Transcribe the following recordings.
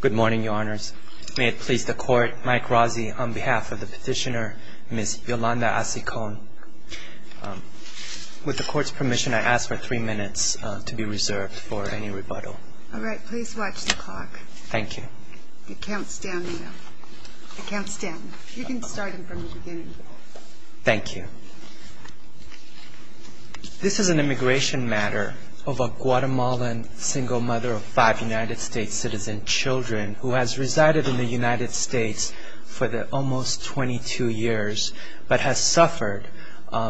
Good morning, Your Honors. May it please the Court, Mike Razzi, on behalf of the petitioner, Ms. Yolanda Acicon. With the Court's permission, I ask for three minutes to be reserved for any rebuttal. All right. Please watch the clock. Thank you. It counts down now. It counts down. You can start it from the beginning. Thank you. This is an immigration matter of a Guatemalan single mother of five United States citizen children who has resided in the United States for the almost 22 years, but has suffered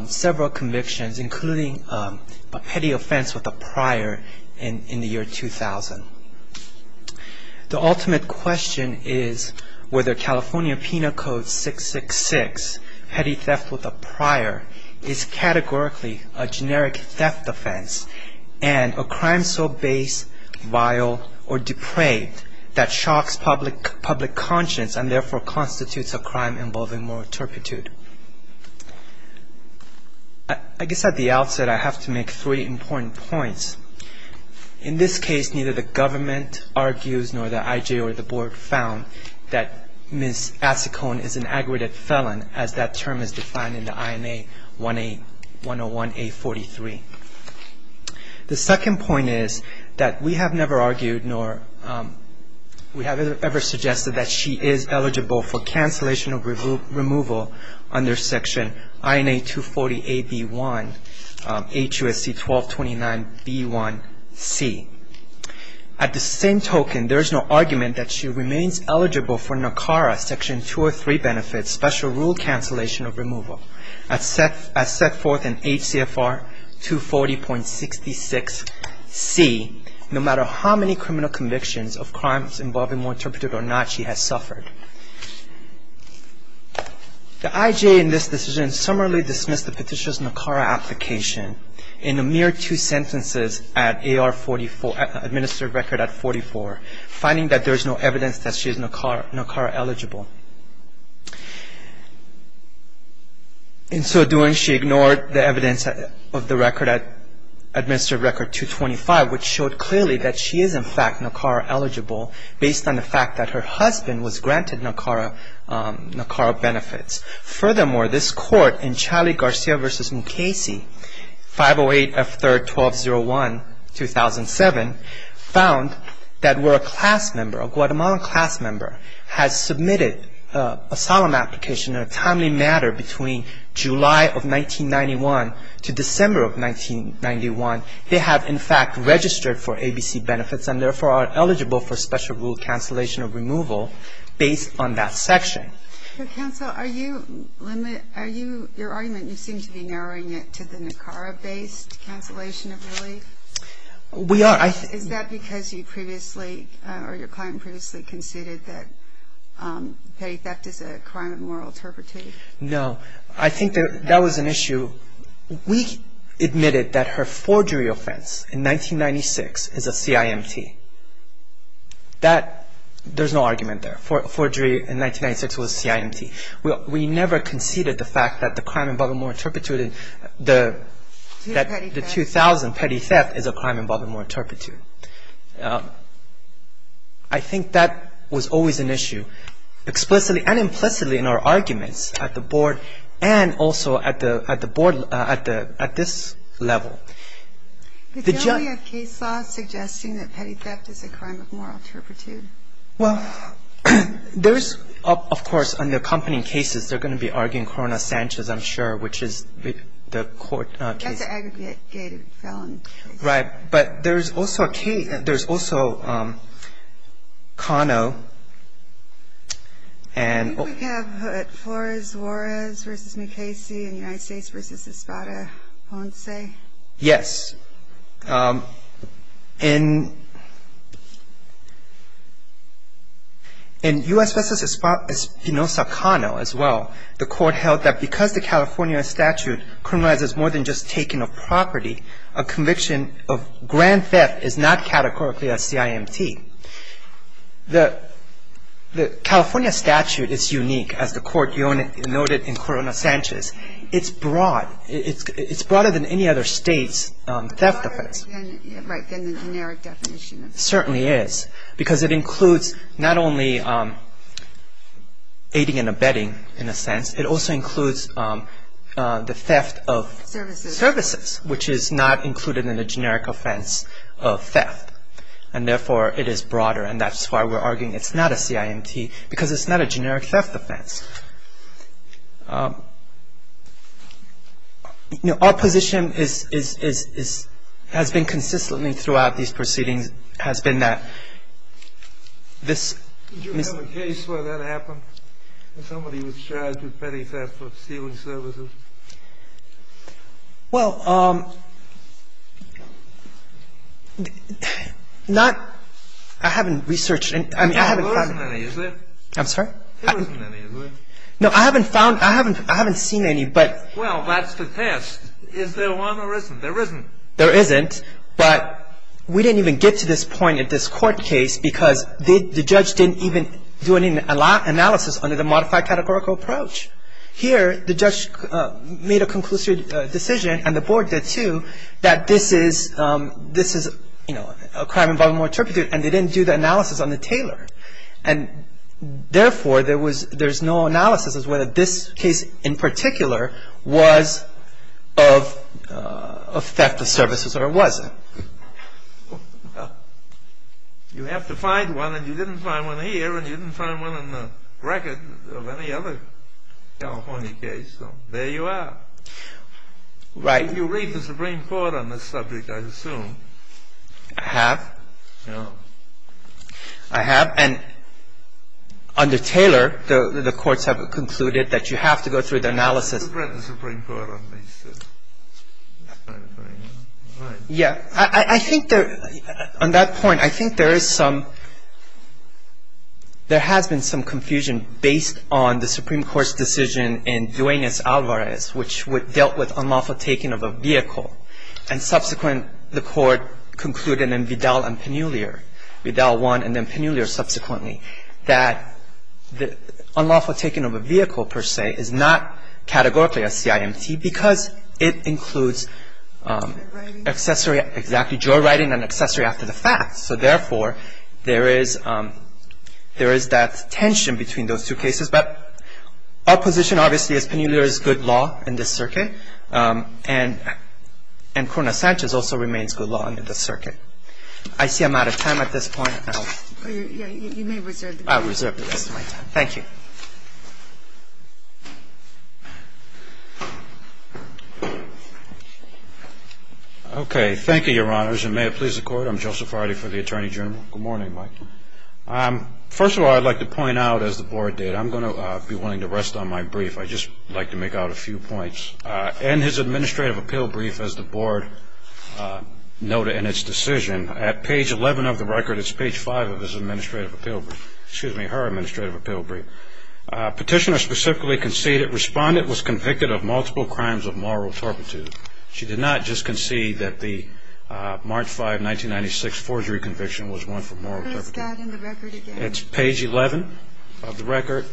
several convictions, including a petty offense with a prior in the year 2000. The ultimate question is whether California Penal Code 666, petty theft with a prior, is categorically a generic theft offense and a crime so base, vile, or depraved that shocks public conscience and therefore constitutes a crime involving moral turpitude. I guess at the outset I have to make three important points. In this case, neither the government argues nor the IJ or the Board found that Ms. Acicon is an aggregate felon as that term is defined in the INA 101-A43. The second point is that we have never argued nor we have ever suggested that she is eligible for cancellation of removal under Section INA 240-AB1 HUSC 1229-B1C. At the same token, there is no argument that she remains eligible for NACARA Section 203 benefits, special rule cancellation of removal, as set forth in HCFR 240.66C, no matter how many criminal convictions of crimes involving moral turpitude or not she has suffered. The IJ in this decision summarily dismissed the petitioner's NACARA application in a mere two sentences at AR 44, administered record at 44, finding that there is no evidence that she is NACARA eligible. In so doing, she ignored the evidence of the record at administered record 225, which showed clearly that she is in fact NACARA eligible based on the fact that her husband was granted NACARA benefits. Furthermore, this court in Charlie Garcia v. Mukasey, 508F3R 1201-2007, found that where a class member, a Guatemalan class member, has submitted a solemn application in a timely manner between July of 1991 to December of 1991, they have in fact registered for ABC benefits and therefore are eligible for special rule cancellation of removal based on that section. MS. GOTTLIEB Counsel, are you limiting, are you, your argument you seem to be narrowing it to the NACARA-based cancellation of relief? MR. SHIRAZI We are. MS. GOTTLIEB Is that because you previously or your client previously conceded that petty theft is a crime of moral turpitude? MR. SHIRAZI No. I think that that was an issue. We admitted that her forgery offense in 1996 is a CIMT. That, there's no argument there. Forgery in 1996 was CIMT. We never conceded the fact that the crime of moral turpitude, the 2000 petty theft is a crime of moral turpitude. I think that was always an issue, explicitly and implicitly in our arguments at the Board and also at the Board at this level. MS. GOTTLIEB Petty theft is a crime of moral turpitude. MR. SHIRAZI Well, there's, of course, on the accompanying cases, they're going to be arguing Corona-Sanchez, I'm sure, which is the court case. MS. GOTTLIEB That's an aggregated felon case. MR. SHIRAZI Right. But there's also a case, there's also Cano and... MS. GOTTLIEB I think we have Flores-Juarez v. Mukasey in the United States v. Espada-Ponce. In U.S. v. Espada-Ponce, Cano as well, the court held that because the California statute criminalizes more than just taking of property, a conviction of grand theft is not categorically a CIMT. The California statute is unique, as the court noted in Corona-Sanchez. It's broad. It's broader than any other state's theft offense. MS. GOTTLIEB It's broader than the generic definition. MR. SHIRAZI It certainly is. Because it includes not only aiding and abetting, in a sense, it also includes the theft of... MS. GOTTLIEB Services. MR. SHIRAZI ...services, which is not included in the generic offense of theft. And therefore, it is broader. And that's why we're arguing it's not a CIMT, because it's not a generic theft offense. Our position has been consistently throughout these proceedings has been that this... MR. SHIRAZI Did you have a case where that happened, where somebody was charged with petty theft for stealing services? MR. SHIRAZI Well, not – I haven't researched – I mean, I haven't... MR. SHIRAZI There wasn't any, is there? MR. SHIRAZI I'm sorry? MR. SHIRAZI There wasn't any, is there? MR. SHIRAZI No, I haven't found – I haven't seen any, but... MR. SHIRAZI Well, that's the test. Is there one or isn't? There isn't. MR. SHIRAZI There isn't, but we didn't even get to this point in this court case because the judge didn't even do any analysis under the modified categorical approach. Here, the judge made a conclusive decision, and the Board did too, that this is, you know, a crime involving moral turpitude, and they didn't do the analysis on the tailor. And therefore, there was – there's no analysis as whether this case in particular was of theft of services or wasn't. MR. SHIRAZI Well, you have to find one, and you didn't find one here, and you didn't find one in the record of any other California case, so there you are. MR. SHIRAZI Right. MR. SHIRAZI You read the Supreme Court on this subject, I assume. MR. SHIRAZI I have. MR. SHIRAZI No. MR. SHIRAZI I have. And under tailor, the courts have concluded that you have to go through the analysis. MR. SHIRAZI You read the Supreme Court on this. MR. SHIRAZI Yeah. I think there – on that point, I think there is some – there has been some confusion based on the Supreme Court's decision in Duenas-Alvarez, which dealt with unlawful taking of a vehicle, and subsequent, the court concluded in Vidal and Pannulier, Vidal 1 and then Pannulier subsequently, that unlawful taking of a vehicle, per se, is not categorically a CIMT because it includes accessory – MR. SHIRAZI MR. SHIRAZI Exactly. Joyriding and accessory after the fact. So therefore, there is – there is that tension between those two cases. But our position, obviously, is Pannulier is good law in this circuit, and Corona-Sanchez also remains good law in this circuit. I see I'm out of time at this point. MR. SHIRAZI You may reserve the rest of your time. MR. SHIRAZI I'll reserve the rest of my time. Thank you. JOSEPH ARDI Okay. Thank you, Your Honors. And may it please the Court, I'm Joseph Ardi for the Attorney General. Good morning, Mike. First of all, I'd like to point out, as the Board did, I'm going to be wanting to rest on my brief. I'd just like to make out a few points. In his Administrative Appeal Brief, as the Board noted in its decision, at page 11 of the record, it's page 5 of his Administrative Appeal Brief – excuse me, her Administrative Appeal Brief, Petitioner specifically conceded Respondent was convicted of multiple crimes of moral turpitude. She did not just concede that the March 5, 1996, forgery conviction was one for moral turpitude. It's page 11 of the record,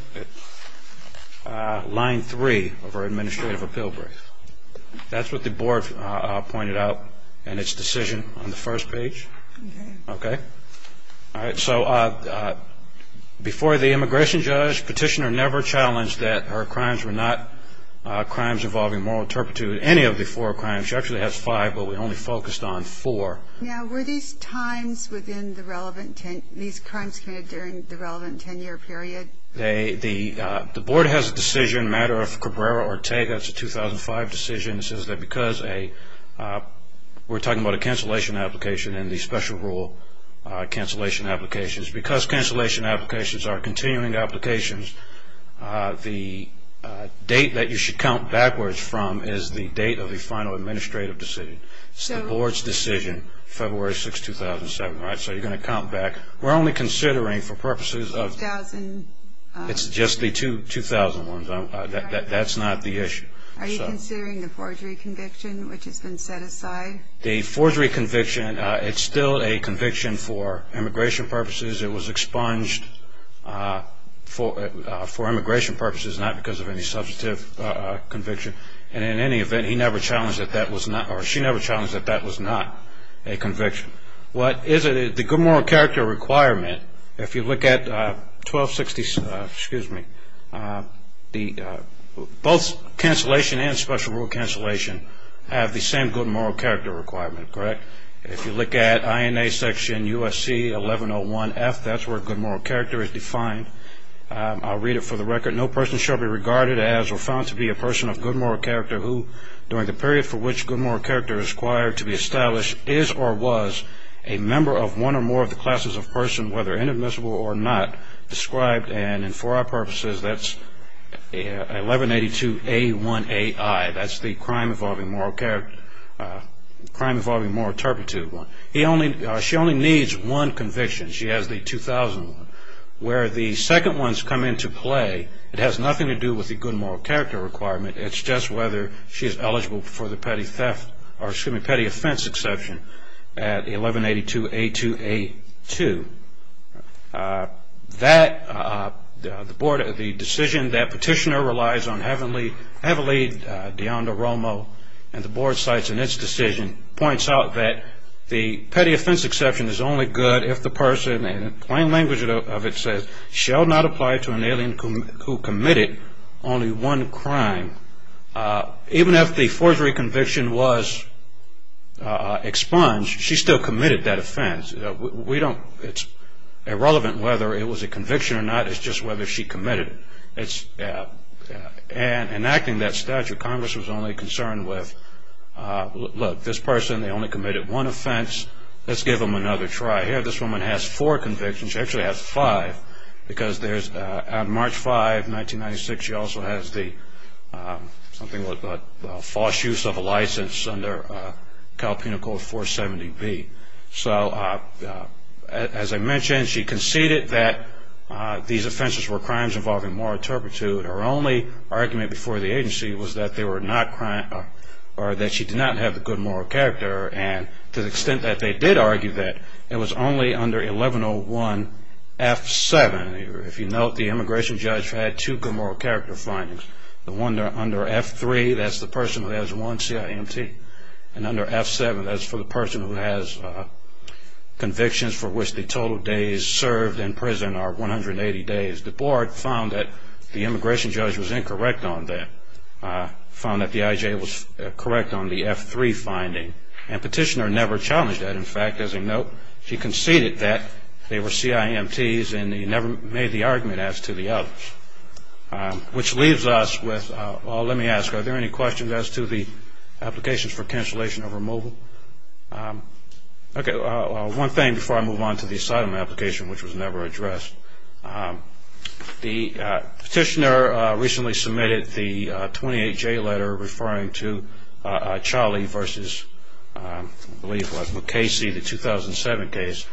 line 3 of her Administrative Appeal Brief. That's what the Board pointed out in its decision on the first page. Okay? All right. So before the Immigration Judge, Petitioner never challenged that her crimes were not crimes involving moral turpitude. Any of the four crimes – she actually has five, but we only focused on four. Now, were these crimes committed during the relevant 10-year period? The Board has a decision, a matter of Cabrera-Ortega. It's a 2005 decision. It says that because a – we're talking about a cancellation application and the special rule cancellation applications. Because cancellation applications are continuing applications, the date that you should count backwards from is the date of the final administrative decision. It's the Board's decision, February 6, 2007. All right, so you're going to count back. We're only considering for purposes of – 2000 – It's just the 2000 ones. That's not the issue. Are you considering the forgery conviction, which has been set aside? The forgery conviction, it's still a conviction for immigration purposes. It was expunged for immigration purposes, not because of any substantive conviction. And in any event, he never challenged that that was not – or she never challenged that that was not a conviction. What is it? The good moral character requirement, if you look at 1260 – excuse me – both cancellation and special rule cancellation have the same good moral character requirement, correct? If you look at INA section USC 1101F, that's where good moral character is defined. I'll read it for the record. No person shall be regarded as or found to be a person of good moral character who, during the period for which good moral character is required to be established, is or was a member of one or more of the classes of person, whether inadmissible or not, described. And for our purposes, that's 1182A1AI. That's the crime involving moral character – crime involving moral turpitude. He only – she only needs one conviction. She has the 2000 one. Where the second one's come into play, it has nothing to do with the good moral character requirement. It's just whether she is eligible for the petty theft – or, excuse me, petty offense exception at 1182A2A2. That – the board – the decision that petitioner relies on heavily, DeAnda Romo, and the board cites in its decision points out that the petty offense exception is only good if the person – and in plain language of it says, shall not apply to an alien who committed only one crime. Even if the forgery conviction was expunged, she still committed that offense. We don't – it's irrelevant whether it was a conviction or not. It's just whether she committed it. And enacting that statute, Congress was only concerned with, look, this person, they only committed one offense. Let's give them another try. Here, this woman has four convictions. She actually has five because there's – on March 5, 1996, she also has the – something with the false use of a license under Calpena Code 470B. So, as I mentioned, she conceded that these offenses were crimes involving moral turpitude. Her only argument before the agency was that they were not – or that she did not have a good moral character. And to the extent that they did argue that, it was only under 1101F7. If you note, the immigration judge had two good moral character findings. The one under F3, that's the person who has one CIMT. And under F7, that's for the person who has convictions for which the total days served in prison are 180 days. The board found that the immigration judge was incorrect on that, found that the IJ was correct on the F3 finding. And Petitioner never challenged that. In fact, as a note, she conceded that they were CIMTs and he never made the argument as to the others. Which leaves us with – well, let me ask, are there any questions as to the applications for cancellation of removal? Okay, one thing before I move on to the asylum application, which was never addressed. The Petitioner recently submitted the 28J letter referring to Cholly v. – I believe it was – McKaysey, the 2007 case.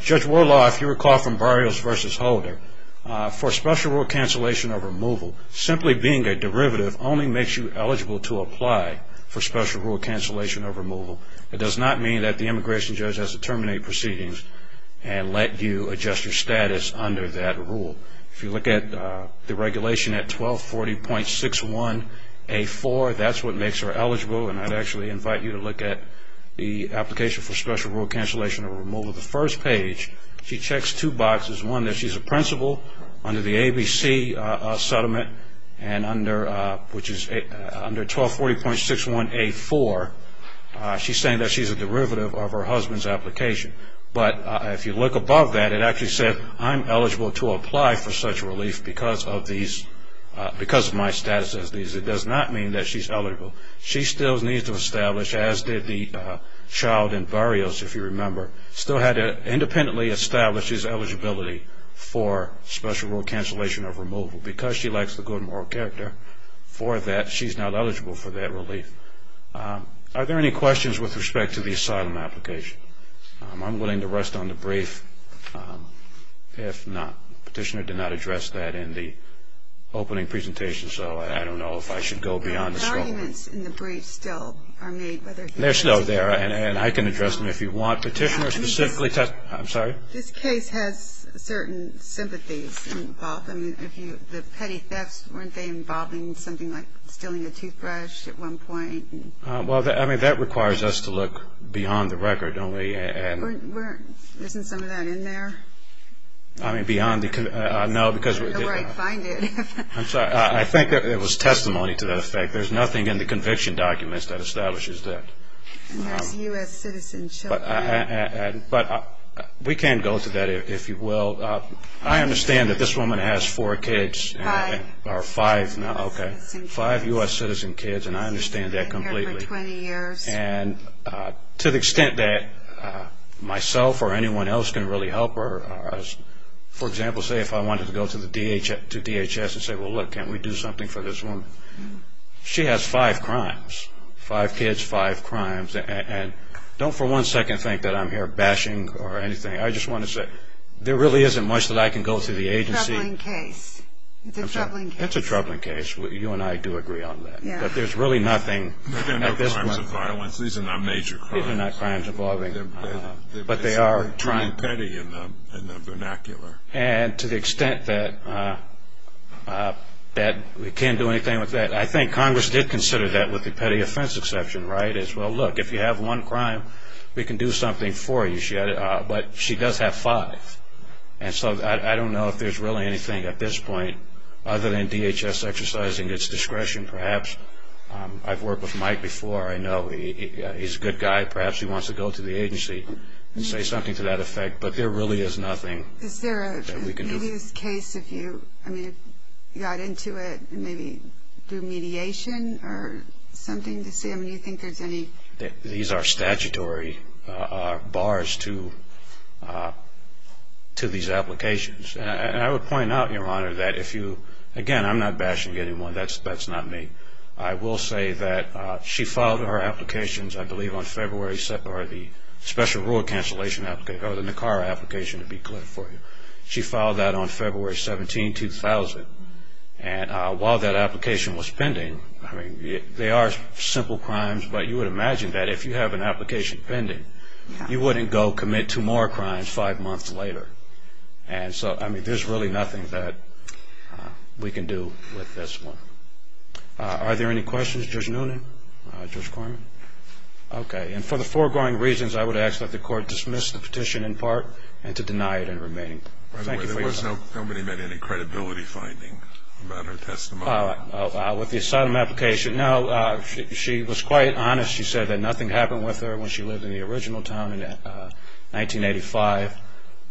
Judge Warlaw, if you recall from Barrios v. Holder, for special rule cancellation of removal, simply being a derivative only makes you eligible to apply for special rule cancellation of removal. It does not mean that the immigration judge has to terminate proceedings and let you adjust your status under that rule. If you look at the regulation at 1240.61A4, that's what makes her eligible. And I'd actually invite you to look at the application for special rule cancellation of removal. The first page, she checks two boxes. One, that she's a principal under the ABC settlement, which is under 1240.61A4. She's saying that she's a derivative of her husband's application. But if you look above that, it actually says, I'm eligible to apply for such relief because of my status as these. It does not mean that she's eligible. She still needs to establish, as did the child in Barrios, if you remember, still had to independently establish his eligibility for special rule cancellation of removal. Because she lacks the good moral character for that, she's not eligible for that relief. Are there any questions with respect to the asylum application? I'm willing to rest on the brief if not. The petitioner did not address that in the opening presentation, so I don't know if I should go beyond the scope. The arguments in the brief still are made. They're still there, and I can address them if you want. Petitioner specifically, I'm sorry? This case has certain sympathies involved. The petty thefts, weren't they involving something like stealing a toothbrush at one point? Well, I mean, that requires us to look beyond the record, don't we? Isn't some of that in there? I mean, beyond the – no, because – I'm sorry. I think it was testimony to that effect. There's nothing in the conviction documents that establishes that. And there's U.S. citizen children. But we can go to that, if you will. I understand that this woman has four kids. Five U.S. citizen kids. Five U.S. citizen kids, and I understand that completely. She's been here for 20 years. And to the extent that myself or anyone else can really help her, for example, say if I wanted to go to DHS and say, well, look, can't we do something for this woman? She has five crimes. Five kids, five crimes. And don't for one second think that I'm here bashing or anything. I just want to say there really isn't much that I can go to the agency – It's a troubling case. It's a troubling case. It's a troubling case. You and I do agree on that. But there's really nothing at this point. These are not major crimes. These are not crimes involving – They're being petty in the vernacular. And to the extent that we can't do anything with that, I think Congress did consider that with the petty offense exception, right? It's, well, look, if you have one crime, we can do something for you. But she does have five. And so I don't know if there's really anything at this point, other than DHS exercising its discretion perhaps. I've worked with Mike before. I know he's a good guy. Perhaps he wants to go to the agency and say something to that effect. But there really is nothing that we can do. Is there a loose case if you got into it and maybe do mediation or something? Do you think there's any – These are statutory bars to these applications. And I would point out, Your Honor, that if you – again, I'm not bashing anyone. That's not me. I will say that she filed her applications, I believe, on February – or the special rule cancellation – or the NACARA application, to be clear for you. She filed that on February 17, 2000. And while that application was pending – I mean, they are simple crimes, but you would imagine that if you have an application pending, you wouldn't go commit two more crimes five months later. And so, I mean, there's really nothing that we can do with this one. Are there any questions? Judge Noonan? Judge Corman? Okay. And for the foregoing reasons, I would ask that the court dismiss the petition in part and to deny it in remaining. Thank you for your time. By the way, there was no – nobody made any credibility finding about her testimony? With the asylum application, no. She was quite honest. She said that nothing happened with her when she lived in the original town in 1985.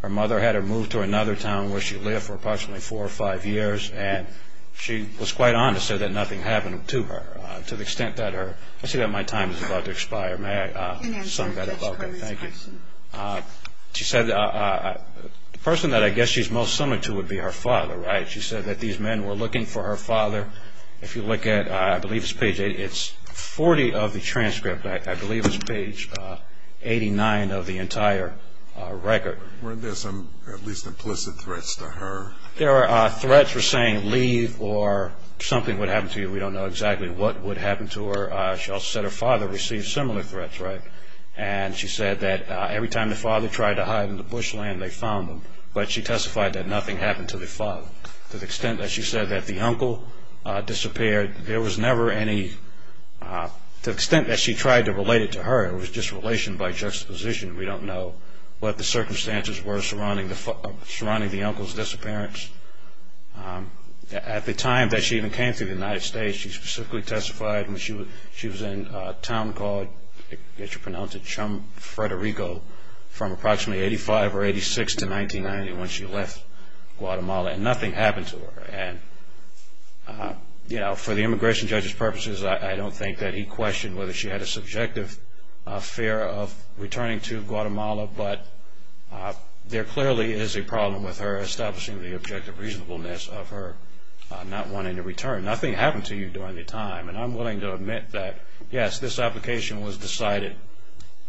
Her mother had her moved to another town where she lived for approximately four or five years. And she was quite honest. She said that nothing happened to her to the extent that her – I see that my time is about to expire. May I sum that up? Thank you. She said the person that I guess she's most similar to would be her father, right? She said that these men were looking for her father. If you look at – I believe it's page – it's 40 of the transcript. I believe it's page 89 of the entire record. Weren't there some at least implicit threats to her? There are threats for saying leave or something would happen to you. We don't know exactly what would happen to her. She also said her father received similar threats, right? And she said that every time the father tried to hide in the bushland, they found him. But she testified that nothing happened to the father. To the extent that she said that the uncle disappeared, there was never any – to the extent that she tried to relate it to her, it was just relation by juxtaposition. We don't know what the circumstances were surrounding the uncle's disappearance. At the time that she even came to the United States, she specifically testified when she was in a town called – I guess you pronounce it – Chamfrederico from approximately 85 or 86 to 1990 when she left Guatemala, and nothing happened to her. For the immigration judge's purposes, I don't think that he questioned whether she had a subjective fear of returning to Guatemala, but there clearly is a problem with her establishing the objective reasonableness of her not wanting to return. Nothing happened to you during the time. And I'm willing to admit that, yes, this application was decided,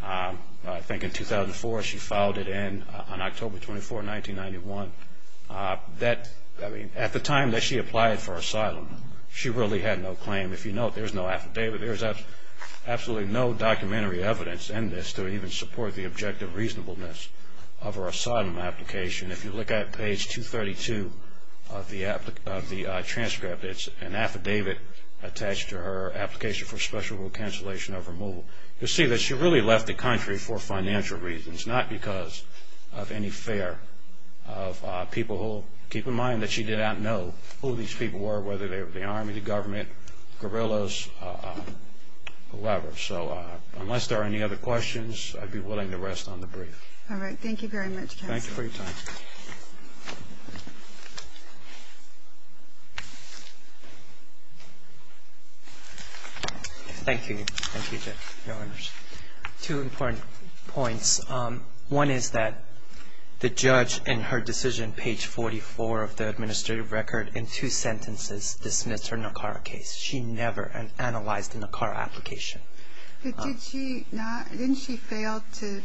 I think, in 2004. She filed it in on October 24, 1991. At the time that she applied for asylum, she really had no claim. If you note, there's no affidavit. There's absolutely no documentary evidence in this to even support the objective reasonableness of her asylum application. If you look at page 232 of the transcript, it's an affidavit attached to her application for special rule cancellation of removal. You'll see that she really left the country for financial reasons, not because of any fear of people who – keep in mind that she did not know who these people were, whether they were the army, the government, guerrillas, whoever. So unless there are any other questions, I'd be willing to rest on the brief. All right. Thank you very much, counsel. Thank you for your time. Thank you. Thank you, Judge. No worries. Two important points. One is that the judge in her decision, page 44 of the administrative record, in two sentences dismissed her NACARA case. She never analyzed the NACARA application. But did she not – didn't she fail to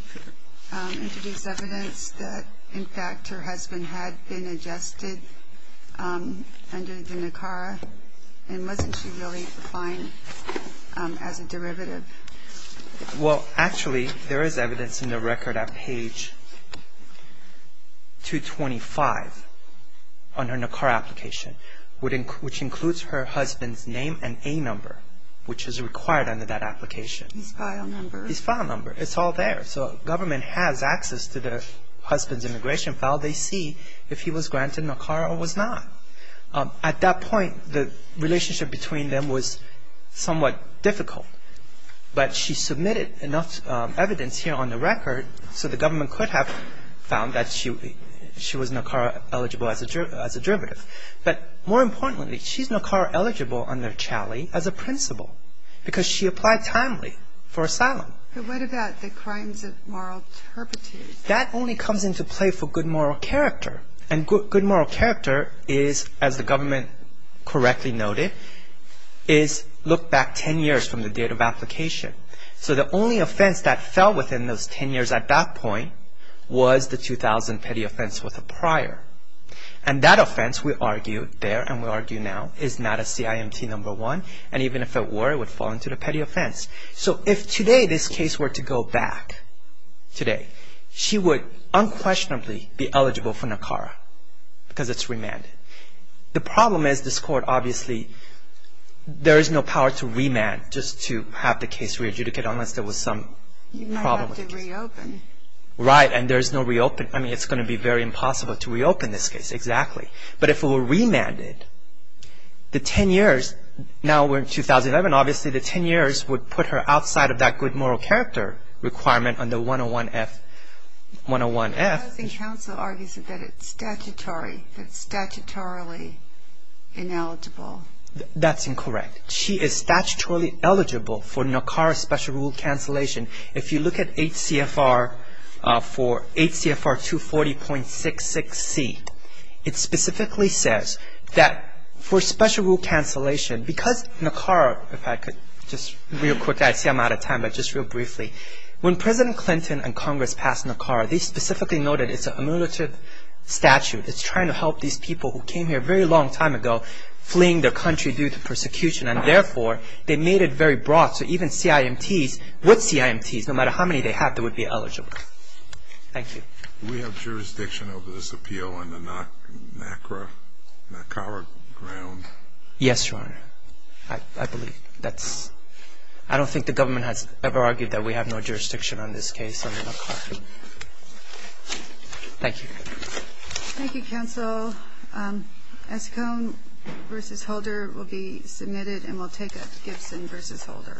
introduce evidence that, in fact, her husband had been adjusted under the NACARA? And wasn't she really fine as a derivative? Well, actually, there is evidence in the record at page 225 on her NACARA application, which includes her husband's name and A number, which is required under that application. His file number. His file number. It's all there. So government has access to their husband's immigration file. They see if he was granted NACARA or was not. At that point, the relationship between them was somewhat difficult. But she submitted enough evidence here on the record, so the government could have found that she was NACARA-eligible as a derivative. But more importantly, she's NACARA-eligible under Challey as a principal because she applied timely for asylum. But what about the crimes of moral turpitude? That only comes into play for good moral character. And good moral character is, as the government correctly noted, is look back 10 years from the date of application. So the only offense that fell within those 10 years at that point was the 2000 petty offense with a prior. And that offense, we argued there and we argue now, is not a CIMT No. 1. And even if it were, it would fall into the petty offense. So if today this case were to go back today, she would unquestionably be eligible for NACARA because it's remanded. The problem is this court obviously, there is no power to remand just to have the case re-adjudicated unless there was some problem. You might have to reopen. Right, and there's no reopen. I mean, it's going to be very impossible to reopen this case, exactly. But if it were remanded, the 10 years, now we're in 2011, obviously the 10 years would put her outside of that good moral character requirement under 101F. The Housing Council argues that it's statutorily ineligible. That's incorrect. She is statutorily eligible for NACARA special rule cancellation. If you look at HCFR 240.66C, it specifically says that for special rule cancellation, because NACARA, if I could just real quick, I see I'm out of time, but just real briefly. When President Clinton and Congress passed NACARA, they specifically noted it's an emulative statute. It's trying to help these people who came here a very long time ago fleeing their country due to persecution, and therefore, they made it very broad so even CIMTs, with CIMTs, no matter how many they have, they would be eligible. Thank you. Do we have jurisdiction over this appeal on the NACARA ground? Yes, Your Honor. I don't think the government has ever argued that we have no jurisdiction on this case under NACARA. Thank you. Thank you, counsel. Eskom v. Holder will be submitted and we'll take it. Gibson v. Holder.